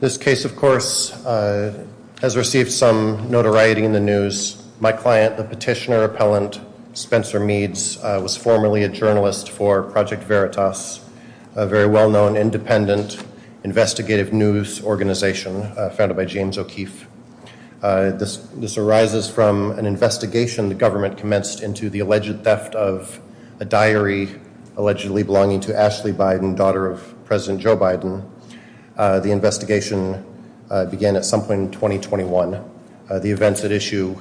This case, of course, has received some notoriety in the news. My client, the petitioner-appellant Spencer Meads, was formerly a journalist for Project Veritas, a very well-known independent investigative news organization founded by James O'Keefe. This arises from an investigation the government commenced into the alleged theft of a diary allegedly belonging to Ashley Biden. The investigation began at some point in 2021. The events at issue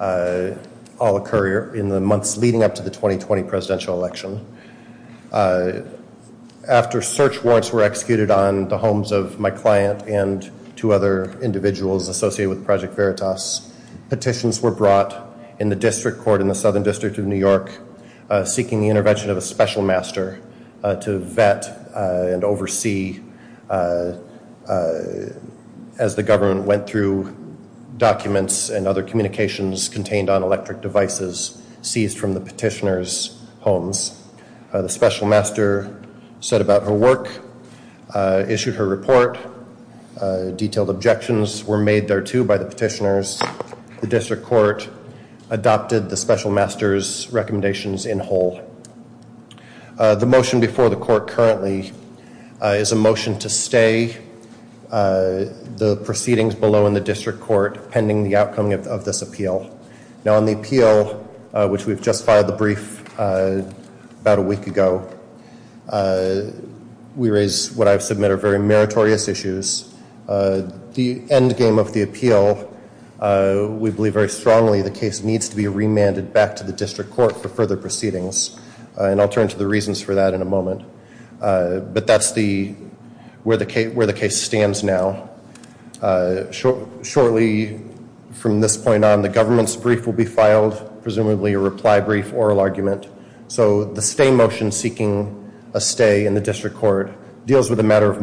all occur in the months leading up to the 2020 presidential election. After search warrants were executed on the homes of my client and two other individuals associated with Project Veritas, petitions were brought in the District Court in the Southern District of New York seeking the intervention of a special master to vet and oversee as the government went through documents and other communications contained on electric devices seized from the petitioner's homes. The special master said about her work, issued her report, detailed objections were made thereto by the petitioners. The District Court adopted the special master's recommendations in whole. The motion before the court currently is a motion to stay the proceedings below in the District Court pending the outcome of this appeal. Now on the appeal, which we've just filed the brief about a week ago, we raise what I've submitted are very the case needs to be remanded back to the District Court for further proceedings and I'll turn to the reasons for that in a moment. But that's the where the case stands now. Shortly from this point on the government's brief will be filed, presumably a reply brief oral argument. So the stay motion seeking a stay in the District Court deals with a matter of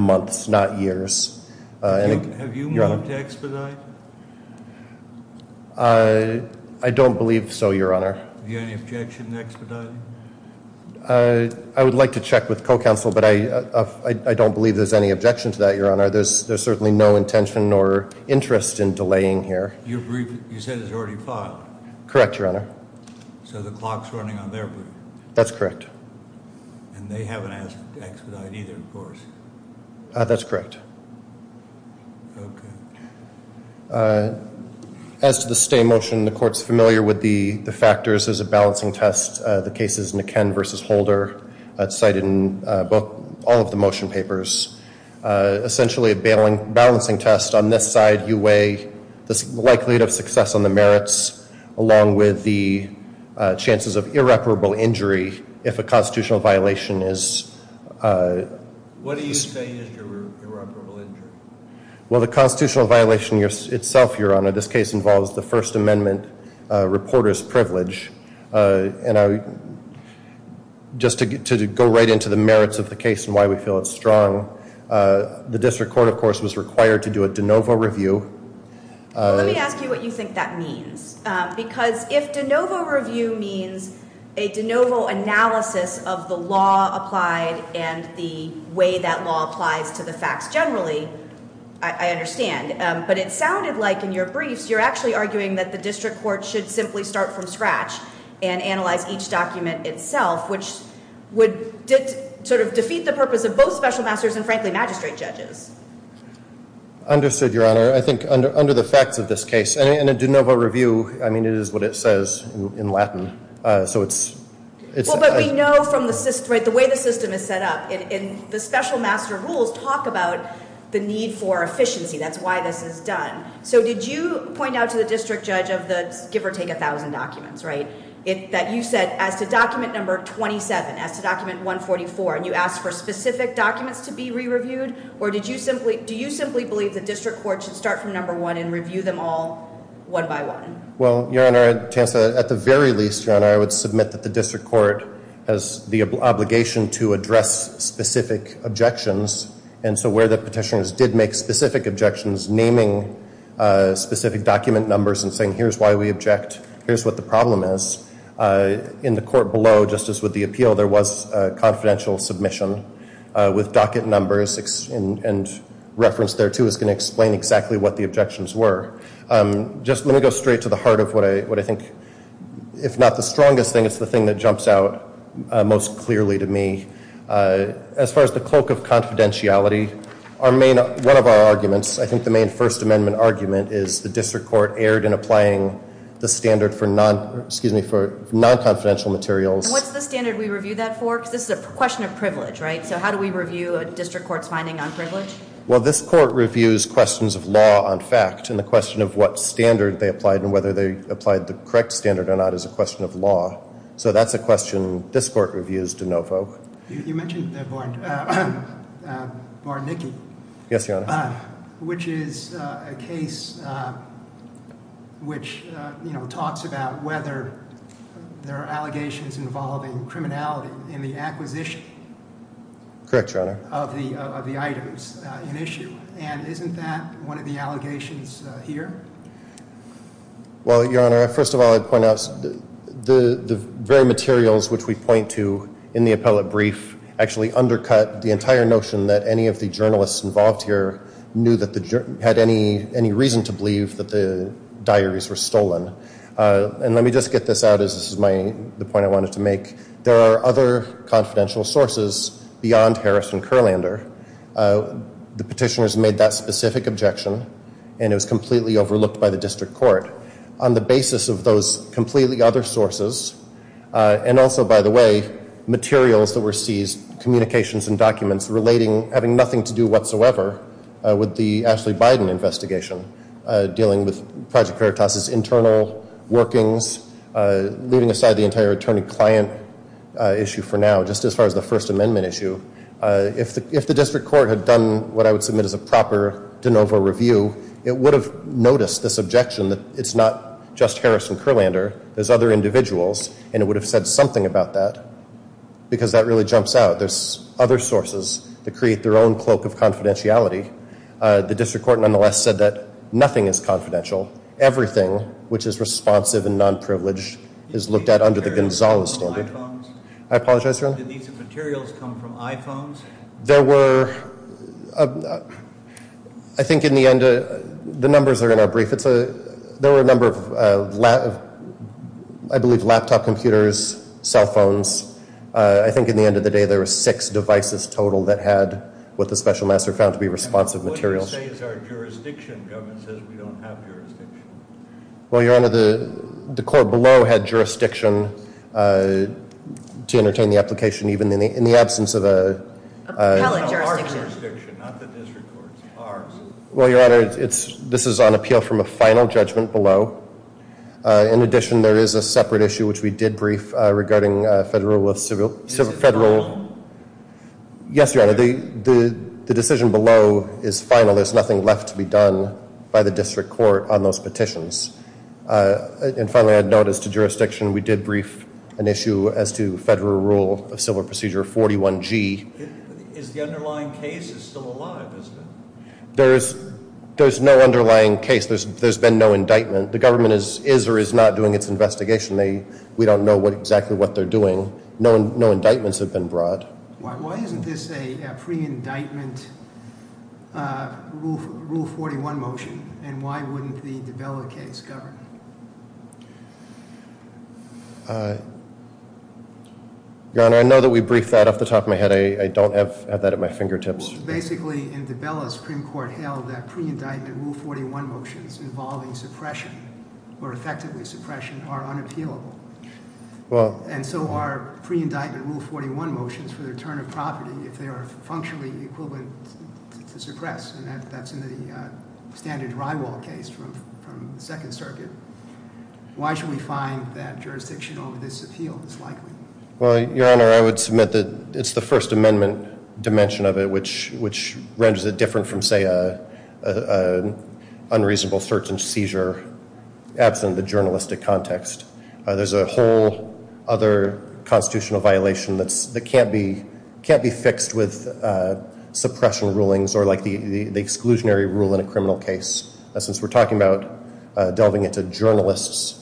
I don't believe so, your honor. I would like to check with co-counsel, but I don't believe there's any objection to that, your honor. There's certainly no intention or interest in delaying here. Correct, your honor. That's familiar with the factors as a balancing test. The case is McKen versus Holder. It's cited in all of the motion papers. Essentially a balancing test. On this side you weigh the likelihood of success on the merits along with the chances of irreparable injury if a constitutional violation is... What do you say is irreparable injury? Well the constitutional violation itself, your honor, this case involves the First Amendment reporter's privilege and I just to go right into the merits of the case and why we feel it's strong. The District Court of course was required to do a de novo review. Let me ask you what you think that means. Because if de novo review means a de novo analysis of the law applied and the way that law applies to the facts generally, I understand. But it sounded like in your briefs you're actually arguing that the district court should simply start from scratch and analyze each document itself, which would sort of defeat the purpose of both special masters and frankly magistrate judges. Understood, your honor. I think under the facts of this case and a de novo review, I mean it is what it says in Latin. So it's... But we know from the way the system is set up in the special master rules talk about the need for efficiency. That's why this is done. So did you point out to the district judge of the give or take a thousand documents, right? That you said as to document number 27, as to document 144, and you asked for specific documents to be re-reviewed? Or did you simply... Do you simply believe the district court should start from number one and review them all one by one? Well your honor, Chancellor, at the very least, your honor, I would submit that the district court has the obligation to address specific objections. And so where the petitioners did make specific objections, naming specific document numbers and saying here's why we object, here's what the problem is, in the court below, just as with the appeal, there was a confidential submission with docket numbers and reference there too is going to explain exactly what the objections were. Just let me go straight to the heart of what I think, if not the strongest thing, it's the thing that jumps out most clearly to me. As far as the cloak of confidentiality, our main, one of our arguments, I think the main First Amendment argument is the district court erred in applying the standard for non, excuse me, for non-confidential materials. What's the standard we review that for? Because this is a question of privilege, right? So how do we review a district court's finding on privilege? Well this court reviews questions of law on fact and the question of what standard they applied and whether they applied the correct standard or not is a question of law. So that's a question this court reviews to no folk. You mentioned Varnicky, which is a case which you know talks about whether there are allegations involving criminality in the acquisition of the items in issue and isn't that one of the materials which we point to in the appellate brief actually undercut the entire notion that any of the journalists involved here knew that the had any any reason to believe that the diaries were stolen. And let me just get this out as this is my, the point I wanted to make. There are other confidential sources beyond Harris and Kurlander. The petitioners made that specific objection and it was completely overlooked by the district court. On the and also by the way materials that were seized, communications and documents relating having nothing to do whatsoever with the Ashley Biden investigation dealing with Project Veritas's internal workings, leaving aside the entire attorney-client issue for now just as far as the First Amendment issue. If the if the district court had done what I would submit as a proper de novo review it would have noticed this objection that it's not just Harris and Kurlander there's other individuals and it would have said something about that because that really jumps out. There's other sources to create their own cloak of confidentiality. The district court nonetheless said that nothing is confidential. Everything which is responsive and non-privileged is looked at under the Gonzales standard. I apologize your honor. There were I think in the end the numbers are in our brief it's a there were a number of I believe laptop computers, cell phones. I think in the end of the day there were six devices total that had what the special master found to be responsive materials. Well your honor the court below had jurisdiction to entertain the application even in the in the absence of a... Well your honor it's this is on judgment below. In addition there is a separate issue which we did brief regarding federal civil civil federal. Yes your honor the the the decision below is final. There's nothing left to be done by the district court on those petitions. And finally I'd notice to jurisdiction we did brief an issue as to federal rule of civil procedure 41g. There's there's no underlying case there's been no indictment. The government is is or is not doing its investigation. They we don't know what exactly what they're doing. No indictments have been brought. Why isn't this a pre-indictment rule 41 motion and why wouldn't the DiBella case govern? Your honor I know that we briefed that off the top of my head. I don't have that at my fingertips. Basically in DiBella's Supreme Court held that pre-indictment rule 41 motions involving suppression or effectively suppression are unappealable. Well and so our pre-indictment rule 41 motions for the return of property if they are functionally equivalent to suppress and that's in the standard Rye wall case from the Second Circuit. Why should we find that jurisdiction over this appeal is likely? Well your honor I would submit that it's the First Amendment dimension of it which which renders it different from say a unreasonable search and seizure absent the journalistic context. There's a whole other constitutional violation that's that can't be can't be fixed with suppression rulings or like the the exclusionary rule in a criminal case. Since we're talking about delving into journalists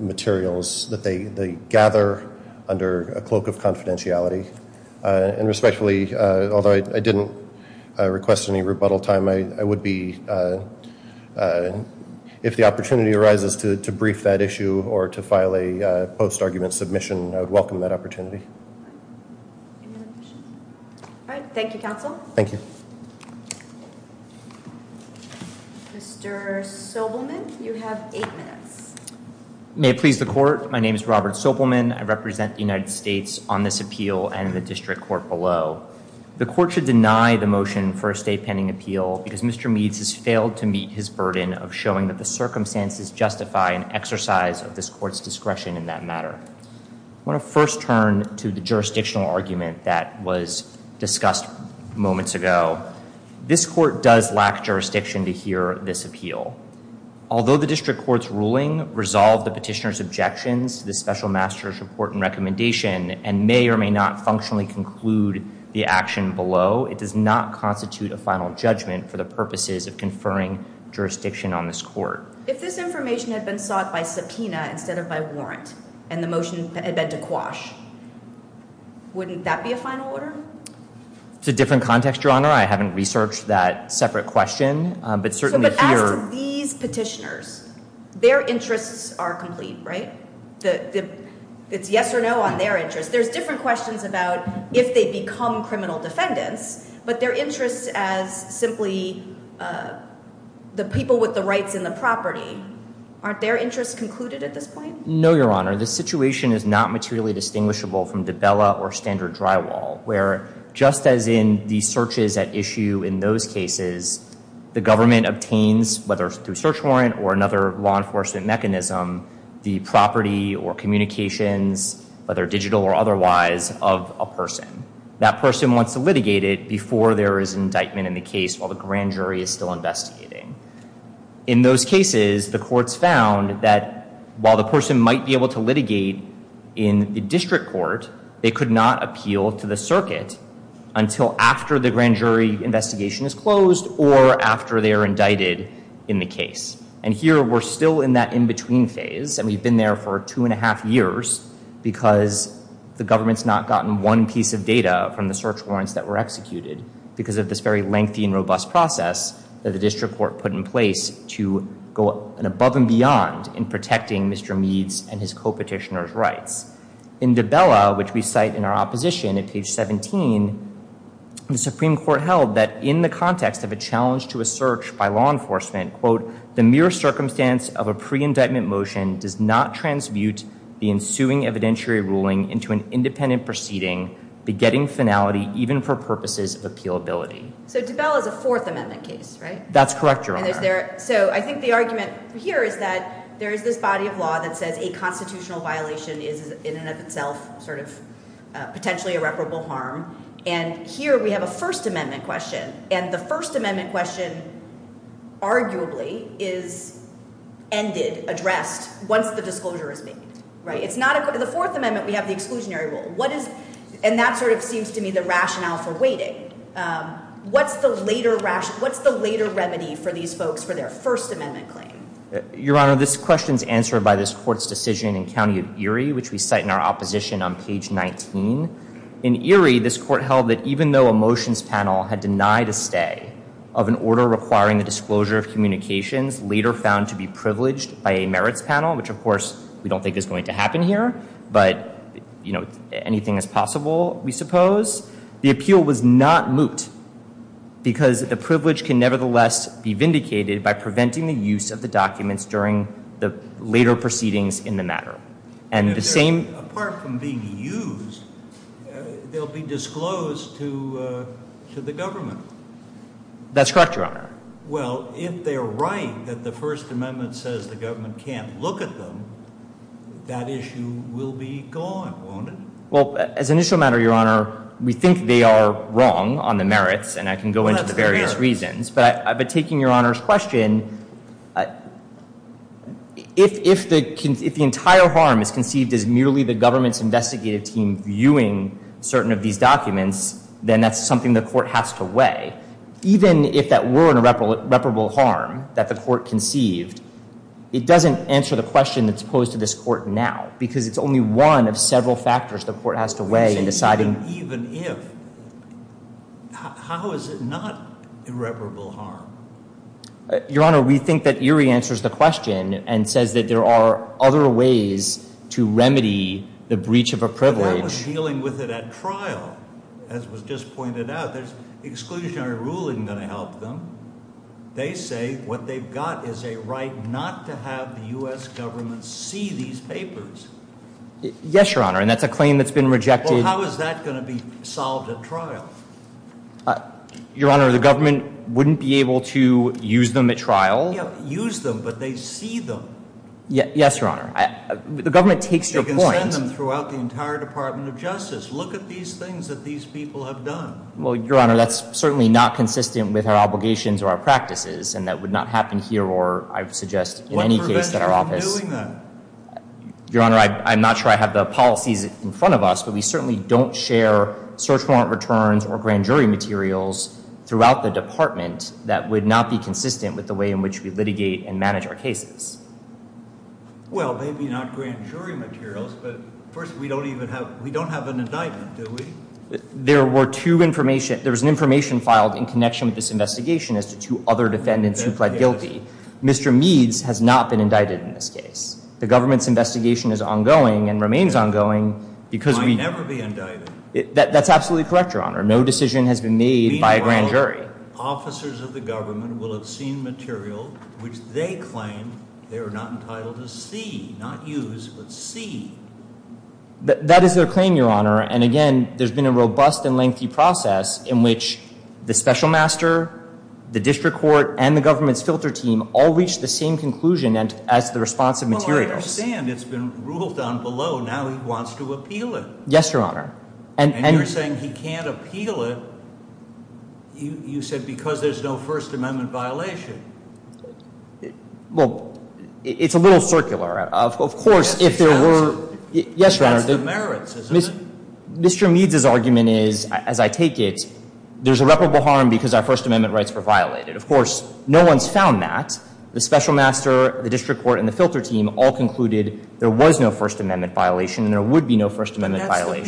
materials that they they gather under a cloak of confidentiality and respectfully although I didn't request any rebuttal time I would be if the opportunity arises to brief that issue or to file a post-argument submission I would welcome that opportunity. All right thank you counsel. Thank you. Mr. Sobelman you have eight minutes. May it please the court my name is Robert Sobelman I represent the United States on this appeal and the district court below. The court should deny the motion for a state pending appeal because Mr. Meads has failed to meet his burden of showing that the circumstances justify an exercise of this court's discretion in that matter. I want to first turn to the jurisdictional argument that was discussed moments ago. This court does lack jurisdiction to hear this appeal. Although the district court's ruling resolved the petitioner's objections the special master's report and the action below it does not constitute a final judgment for the purposes of conferring jurisdiction on this court. If this information had been sought by subpoena instead of by warrant and the motion had been to quash wouldn't that be a final order? It's a different context your honor I haven't researched that separate question but certainly here. But as to these petitioners their interests are complete right the it's yes or no on their interest there's different questions about if they become criminal defendants but their interests as simply the people with the rights in the property aren't their interests concluded at this point? No your honor this situation is not materially distinguishable from the Bella or standard drywall where just as in these searches at issue in those cases the government obtains whether through search warrant or another law enforcement mechanism the property or otherwise of a person. That person wants to litigate it before there is an indictment in the case while the grand jury is still investigating. In those cases the courts found that while the person might be able to litigate in the district court they could not appeal to the circuit until after the grand jury investigation is closed or after they are indicted in the case. And here we're still in that in-between phase and we've been there for two and a half years because the government's not gotten one piece of data from the search warrants that were executed because of this very lengthy and robust process that the district court put in place to go above and beyond in protecting Mr. Meads and his co-petitioners rights. In the Bella which we cite in our opposition at page 17 the Supreme Court held that in the context of a challenge to a search by law enforcement quote the mere circumstance of a pre-indictment motion does not transmute the ensuing evidentiary ruling into an independent proceeding begetting finality even for purposes of appeal ability. So DeBell is a Fourth Amendment case right? That's correct your honor. So I think the argument here is that there is this body of law that says a constitutional violation is in and of itself sort of potentially irreparable harm and here we have a First Amendment question and the First Amendment question arguably is ended, addressed once the disclosure is made right? It's not a the Fourth Amendment we have the exclusionary rule what is and that sort of seems to me the rationale for waiting. What's the later rationale, what's the later remedy for these folks for their First Amendment claim? Your honor this question is answered by this court's decision in County of Erie which we cite in our opposition on page 19. In Erie this court held that even though a motions panel had denied a stay of an order requiring the disclosure of communications later found to be privileged by a merits panel, which of course we don't think is going to happen here, but you know anything is possible we suppose, the appeal was not moot because the privilege can nevertheless be vindicated by preventing the use of the documents during the later proceedings in the matter. And the same apart from being used they'll be disclosed to to the First Amendment says the government can't look at them, that issue will be gone, won't it? Well as an initial matter your honor we think they are wrong on the merits and I can go into the various reasons but I've been taking your honors question if if the if the entire harm is conceived as merely the government's investigative team viewing certain of these documents then that's something the court has to that the court conceived, it doesn't answer the question that's posed to this court now because it's only one of several factors the court has to weigh in deciding. Even if, how is it not irreparable harm? Your honor we think that Erie answers the question and says that there are other ways to remedy the breach of a privilege. But that was dealing with it at trial as was just pointed out there's going to help them. They say what they've got is a right not to have the U.S. government see these papers. Yes your honor and that's a claim that's been rejected. How is that going to be solved at trial? Your honor the government wouldn't be able to use them at trial. Use them but they see them. Yes your honor. The government takes your point. You can send them throughout the entire Department of Justice. Look at these things that these people have done. Well certainly not consistent with our obligations or our practices and that would not happen here or I would suggest in any case that our office. What prevents you from doing that? Your honor I'm not sure I have the policies in front of us but we certainly don't share search warrant returns or grand jury materials throughout the department that would not be consistent with the way in which we litigate and manage our cases. Well maybe not grand jury materials but first we don't even have we don't have an indictment do we? There were two information there was an information filed in connection with this investigation as to two other defendants who pled guilty. Mr. Meads has not been indicted in this case. The government's investigation is ongoing and remains ongoing because we. It might never be indicted. That's absolutely correct your honor. No decision has been made by a grand jury. Officers of the government will have seen material which they claim they are not entitled to see not use but see. That is their claim your honor and again there's been a robust and lengthy process in which the special master, the district court, and the government's filter team all reached the same conclusion and as the response of materials. Well I understand it's been ruled down below now he wants to appeal it. Yes your honor. And you're saying he can't appeal it you said because there's no First Amendment violation. Well it's a little circular of course if there were Yes your honor. Mr. Meads's argument is as I take it there's irreparable harm because our First Amendment rights were violated. Of course no one's found that. The special master, the district court, and the filter team all concluded there was no First Amendment violation and there would be no First Amendment violation.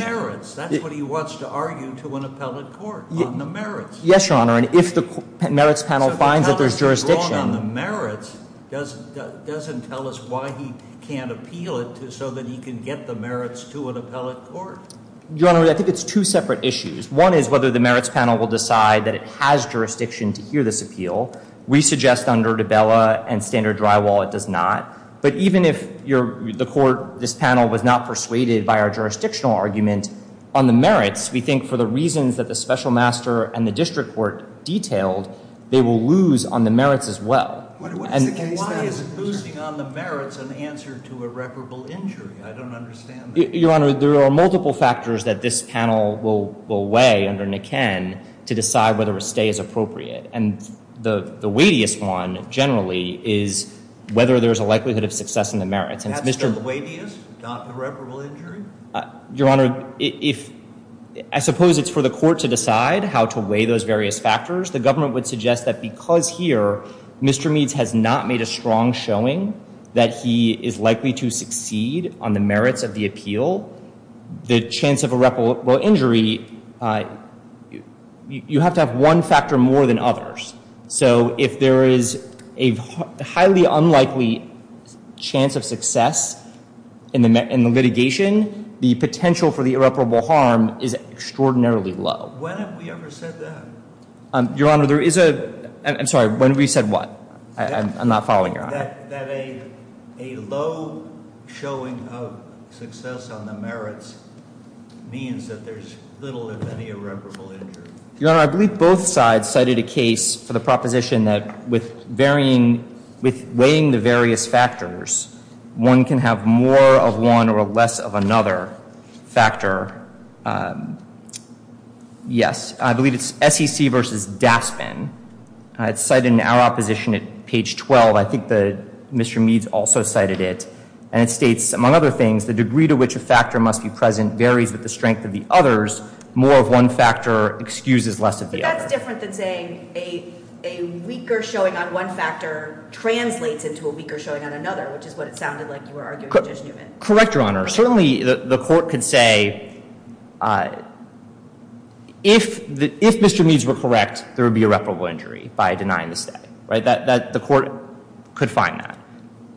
That's what he wants to argue to an appellate court on the merits. Yes your honor and if the merits panel finds that there's jurisdiction. If the appellate is wrong on the merits doesn't tell us why he can't appeal it so that he can get the merits to an appellate court. Your honor I think it's two separate issues. One is whether the merits panel will decide that it has jurisdiction to hear this appeal. We suggest under Dabella and standard drywall it does not. But even if the court, this panel, was not persuaded by our jurisdictional argument on the merits we think for the reasons that the special master and the district court detailed they will lose on the merits as well. Why is losing on the merits an answer to irreparable injury? I don't understand. Your honor there are multiple factors that this panel will weigh under Niken to decide whether a stay is appropriate. And the weightiest one generally is whether there's a likelihood of success in the merits. That's the weightiest? Not the irreparable injury? Your honor, I suppose it's for the court to decide how to weigh those various factors. The government would suggest that because here Mr. Meads's argument is as I take it there's no First Amendment violation and there would be no First Amendment violation. We suggest under Dabella and standard drywall it does not. But even if the court, this panel, was not persuaded by our jurisdictional argument on the merits we think for the reasons that the special master and the district court detailed they will lose on the merits as well. We suggest under Niken's argument there's multiple factors that this panel will weigh under Niken to decide whether a stay is appropriate. And the weightiest one generally is whether there's a likelihood of success Your honor, I suppose it's for the court to decide how to weigh those various factors. So if Mr. Meads has not made a strong showing that he is likely to succeed on the merits of the appeal, the chance of irreparable injury, you have to have one factor more than others. So if there is a highly unlikely chance of success in the litigation, the potential for the irreparable harm is extraordinarily low. So if there is a highly unlikely chance of success in the litigation, the potential for the irreparable harm is extraordinarily low. When have we ever said that? Your honor, there is a, I'm sorry, when have we said what? I'm not following your honor. That a low showing of success on the merits means that there's little if any irreparable injury. Your honor, I believe both sides cited a case for the proposition that with varying, with weighing the various factors, one can have more of one or less of another factor. Yes, I believe it's SEC versus Daspin. It's cited in our opposition at page 12. I think that Mr. Meads also cited it. And it states, among other things, the degree to which a factor must be present varies with the strength of the others. More of one factor excuses less of the other. But that's different than saying a weaker showing on one factor translates into a weaker showing on another, which is what it sounded like you were arguing, Judge Newman. Correct, Your Honor. Certainly, the court could say, if Mr. Meads were correct, there would be irreparable injury by denying the stay. The court could find that.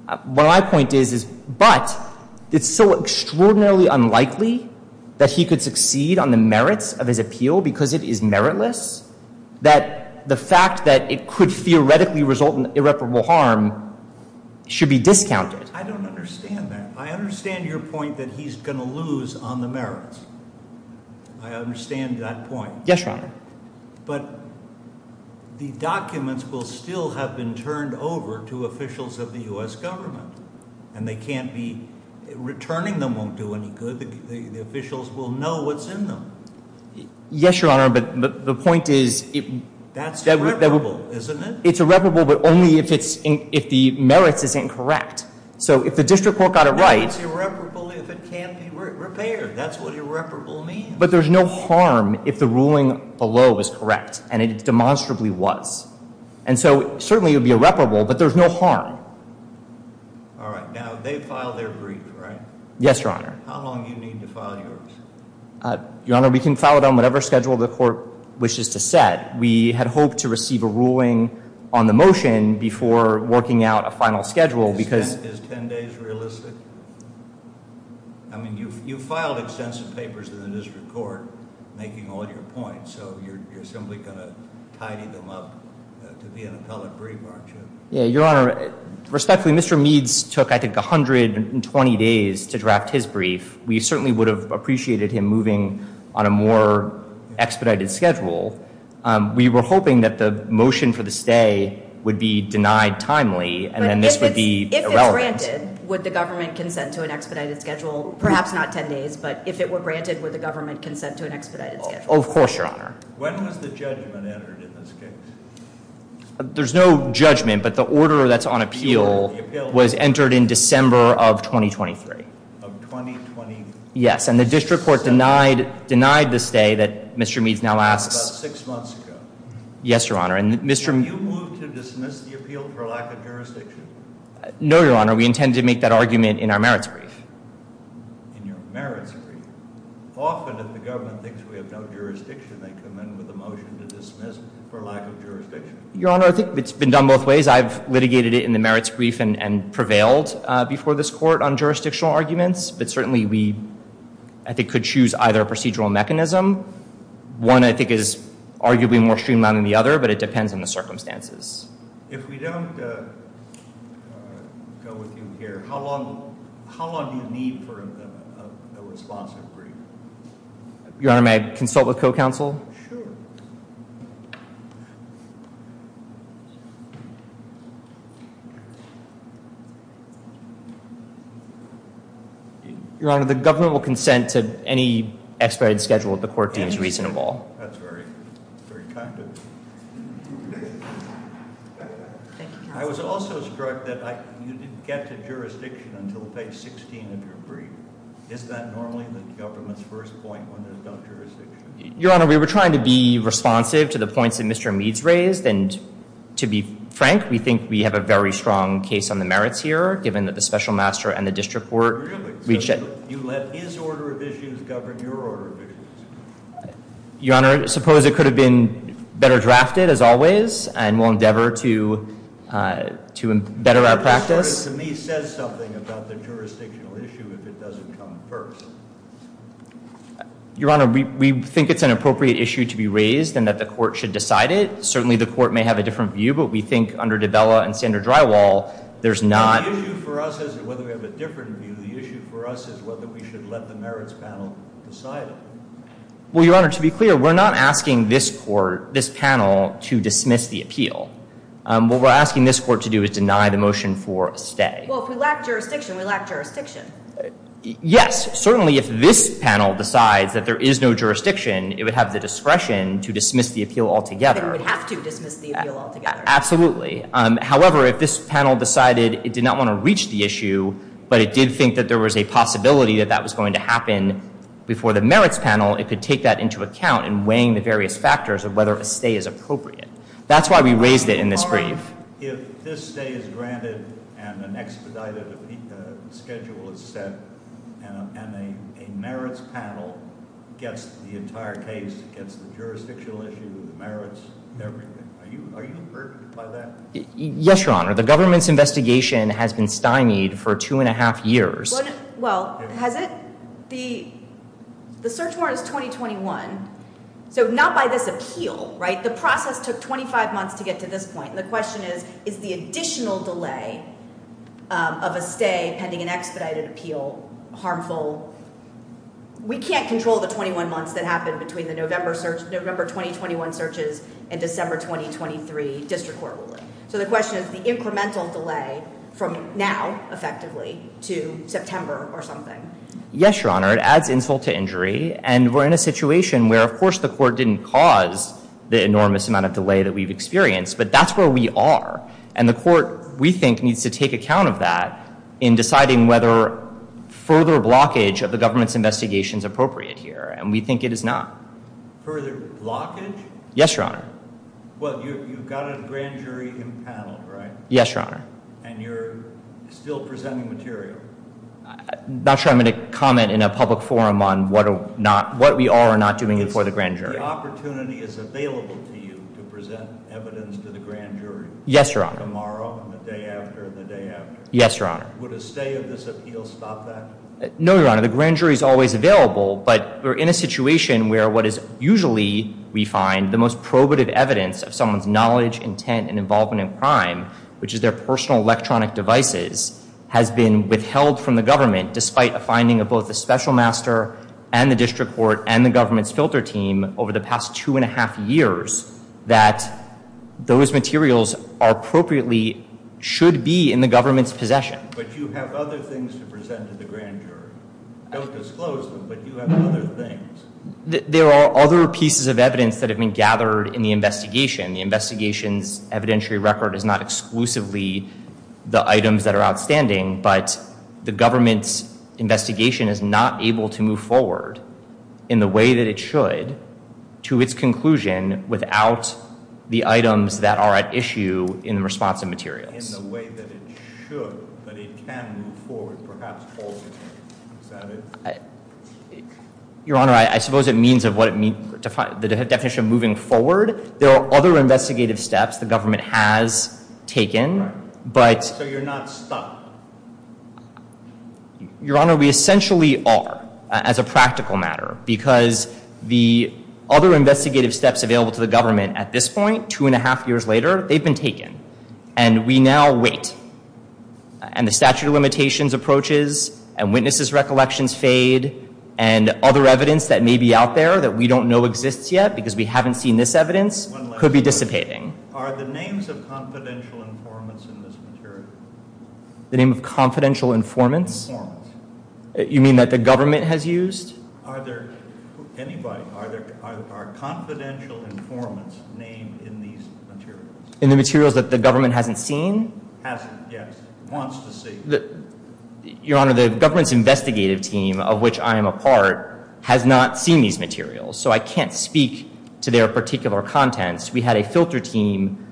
But my point is, but it's so extraordinarily unlikely that he could succeed on the merits of his appeal because it is meritless that the fact that it could theoretically result in irreparable harm should be discounted. I don't understand that. I understand your point that he's going to lose on the merits. I understand that point. Yes, Your Honor. But the documents will still have been turned over to officials of the U.S. government. And returning them won't do any good. The officials will know what's in them. Yes, Your Honor. That's irreparable, isn't it? It's irreparable, but only if the merits isn't correct. So if the district court got it right. That's irreparable if it can't be repaired. That's what irreparable means. But there's no harm if the ruling below is correct, and it demonstrably was. And so certainly it would be irreparable, but there's no harm. All right. Now, they filed their brief, right? Yes, Your Honor. Your Honor, we can file it on whatever schedule the court wishes to set. We had hoped to receive a ruling on the motion before working out a final schedule. Is 10 days realistic? I mean, you filed extensive papers in the district court making all your points. So you're simply going to tidy them up to be an appellate brief, aren't you? Yeah, Your Honor. Respectfully, Mr. Meads took, I think, 120 days to draft his brief. We certainly would have appreciated him moving on a more expedited schedule. We were hoping that the motion for the stay would be denied timely, and then this would be irrelevant. But if it's granted, would the government consent to an expedited schedule? Perhaps not 10 days, but if it were granted, would the government consent to an expedited schedule? Of course, Your Honor. When was the judgment entered in this case? There's no judgment, but the order that's on appeal was entered in December of 2023. Of 2020? Yes, and the district court denied the stay that Mr. Meads now asks. That's about six months ago. Have you moved to dismiss the appeal for lack of jurisdiction? No, Your Honor. We intended to make that argument in our merits brief. Often, if the government thinks we have no jurisdiction, they come in with a motion to dismiss for lack of jurisdiction. Your Honor, I think it's been done both ways. I've litigated it in the merits brief and prevailed before this court on jurisdictional arguments, but certainly we, I think, could choose either procedural mechanism. One, I think, is arguably more streamlined than the other, but it depends on the circumstances. If we don't go with you here, how long do you need for a responsive brief? Your Honor, may I consult with co-counsel? Sure. Your Honor, the government will consent to any expedited schedule if the court deems reasonable. That's very kind of you. Thank you, counsel. I was also struck that you didn't get to jurisdiction until page 16 of your brief. Is that normally the government's first point when it's about jurisdiction? Your Honor, we were trying to be responsive to the points that Mr. Mead's raised, and to be frank, we think we have a very strong case on the merits here, given that the special master and the district court reached a— Really? So you let his order of issues govern your order of issues? Your Honor, suppose it could have been better drafted, as always, and we'll endeavor to better our practice? Your order, to me, says something about the jurisdictional issue if it doesn't come first. Your Honor, we think it's an appropriate issue to be raised, and that the court should decide it. Certainly, the court may have a different view, but we think, under DiBella and Sander Drywall, there's not— The issue for us isn't whether we have a different view. The issue for us is whether we should let the merits panel decide it. Well, Your Honor, to be clear, we're not asking this court, this panel, to dismiss the appeal. What we're asking this court to do is deny the motion for a stay. Well, if we lack jurisdiction, we lack jurisdiction. Yes. Certainly, if this panel decides that there is no jurisdiction, it would have the discretion to dismiss the appeal altogether. It would have to dismiss the appeal altogether. Absolutely. However, if this panel decided it did not want to reach the issue, but it did think that there was a possibility that that was going to happen before the merits panel, it could take that into account in weighing the various factors of whether a stay is appropriate. That's why we raised it in this brief. Your Honor, if this stay is granted and an expedited schedule is set, and a merits panel gets the entire case, gets the jurisdictional issue, the merits, everything, are you averted by that? Yes, Your Honor. The government's investigation has been stymied for two and a half years. Well, has it? The search warrant is 2021. Not by this appeal. The process took 25 months to get to this point. The question is, is the additional delay of a stay pending an expedited appeal harmful? We can't control the 21 months that happened between the November 2021 searches and December 2023 district court ruling. The question is the incremental delay from now, effectively, to Yes, Your Honor. It adds insult to injury. And we're in a situation where, of course, the court didn't cause the enormous amount of delay that we've experienced, but that's where we are. And the court, we think, needs to take account of that in deciding whether further blockage of the government's investigation is appropriate here. And we think it is not. Further blockage? Yes, Your Honor. Well, you've got a grand jury in panel, right? Yes, Your Honor. And you're still presenting material? Not sure I'm going to comment in a public forum on what we are or are not doing for the grand jury. The opportunity is available to you to present evidence to the grand jury? Yes, Your Honor. Tomorrow and the day after and the day after? Yes, Your Honor. Would a stay of this appeal stop that? No, Your Honor. The grand jury is always available, but we're in a situation where what is usually, we find, the most probative evidence of someone's knowledge, intent, and involvement in crime, which is their personal electronic devices, has been withheld from the government despite a finding of both the special master and the district court and the government's filter team over the past two and a half years that those materials are appropriately, should be in the government's possession. But you have other things to present to the grand jury. Don't disclose them, but you have other things. There are other pieces of evidence that have been gathered in the investigation. The investigation's evidentiary record is not exclusively the items that are outstanding, but the government's investigation is not able to move forward in the way that it should to its conclusion without the items that are at issue in the response of materials. In the way that it should, but it can move forward, perhaps alternatively. Is that it? Your Honor, I suppose it means the definition of moving forward. There are other investigative steps the government has taken, but... So you're not stuck? Your Honor, we essentially are as a practical matter, because the other investigative steps available to the government at this point, two and a half years later, they've been taken. And we now wait. And the statute of limitations approaches, and witnesses' recollections fade, and other evidence that may be out there that we don't know exists yet because we haven't seen this evidence could be dissipating. Are the names of confidential informants in this material? The name of confidential informants? Informants. You mean that the government has used? Are there anybody? Are confidential informants named in these materials? In the materials that the government hasn't seen? Hasn't, yes. Wants to see. Your Honor, the government's investigative team, of which I am a part, has not seen these materials. So I can't speak to their particular contents. We had a filter team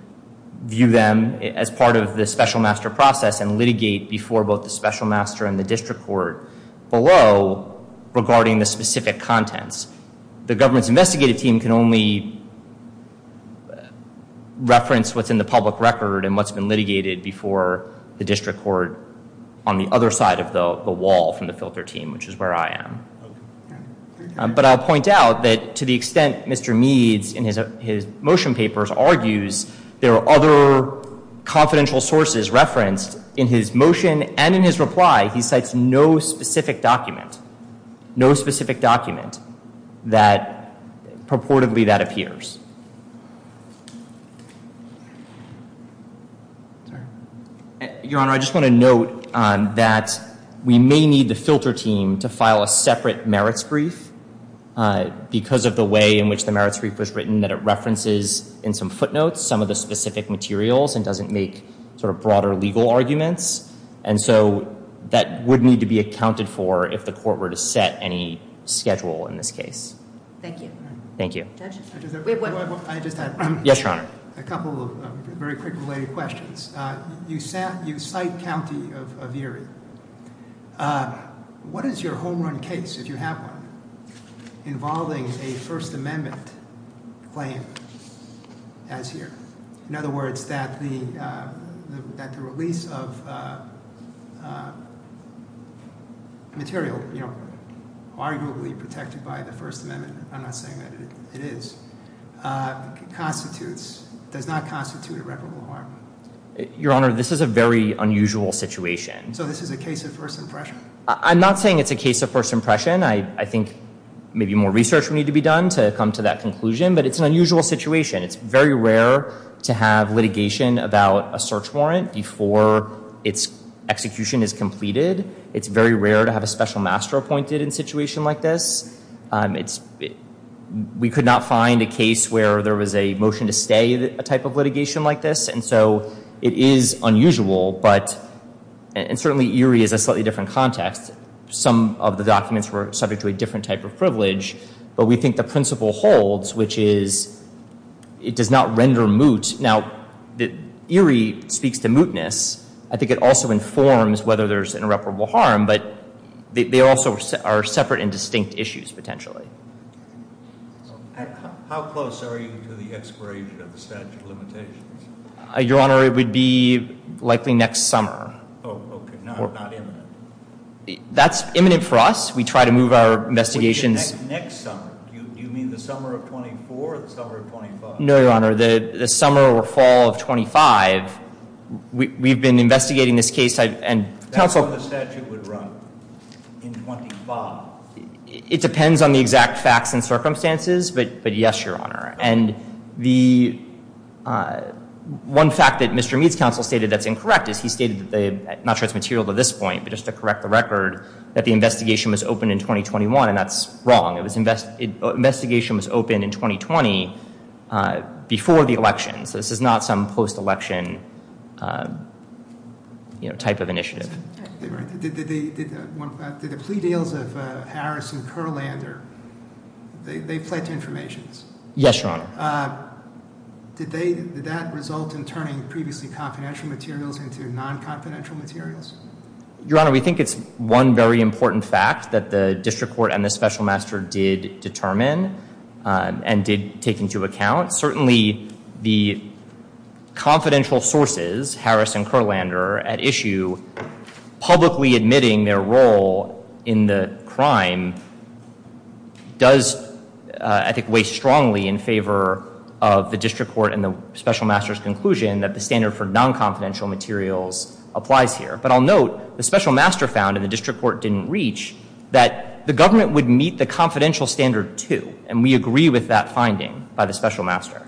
view them as part of the special master process and litigate before both the special master and the district court below regarding the specific contents. The government's investigative team can only reference what's in the public record and what's been litigated before the district court on the other side of the wall from the filter team, which is where I am. But I'll point out that to the extent Mr. Meads in his motion papers argues there are other confidential sources referenced in his motion and in his reply he cites no specific document. No specific document that purportedly that appears. Your Honor, I just want to note that we may need the filter team to file a separate merits brief because of the way in which the merits brief was written that it references in some footnotes some of the specific materials and doesn't make sort of broader legal arguments. And so that would need to be accounted for if the court were to set any schedule in this case. Thank you. Thank you. I just had a couple of very quick related questions. You cite County of Erie. What is your home run case if you have one involving a First Amendment claim as here? In other words, that the release of material arguably protected by the First Amendment, I'm not saying that it is, constitutes, does not constitute irreparable harm? Your Honor, this is a very unusual situation. So this is a case of first impression? I'm not saying it's a case of first impression. I think maybe more research would need to be done to come to that conclusion, but it's an unusual situation. It's very rare to have litigation about a search warrant before its execution is completed. It's very rare to have a special master appointed in a situation like this. We could not find a case where there was a motion to stay a type of litigation like this, and so it is unusual, but and certainly Erie is a slightly different context. Some of the documents were subject to a different type of privilege, but we think the principle holds, which is it does not render moot. Now Erie speaks to mootness. I think it also informs whether there's irreparable harm, but they also are separate and distinct issues, potentially. How close are you to the expiration of the statute of limitations? Your Honor, it would be likely next summer. Oh, okay. Not imminent? That's imminent for us. We try to move our investigations next summer. Do you mean the summer of 24 or the summer of 25? No, Your Honor. The summer or fall of 25, we've been investigating this case. That's when the statute would run? In 25? It depends on the exact facts and the one fact that Mr. Mead's counsel stated that's incorrect is he stated, not sure it's material to this point, but just to correct the record, that the investigation was open in 2021, and that's wrong. The investigation was open in 2020 before the election, so this is not some post-election type of initiative. Did the plea deals of Harris and Kurlander, they did that result in turning previously confidential materials into non-confidential materials? Your Honor, we think it's one very important fact that the district court and the special master did determine and did take into account. Certainly the confidential sources, Harris and Kurlander at issue, publicly admitting their role in the crime does, I think, weigh strongly in favor of the district court and the special master's conclusion that the standard for non-confidential materials applies here. But I'll note the special master found, and the district court didn't reach, that the government would meet the confidential standard too, and we agree with that finding by the special master.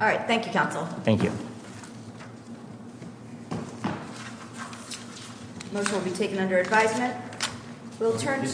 All right. Thank you, counsel. Thank you. Motion will be taken under advisement.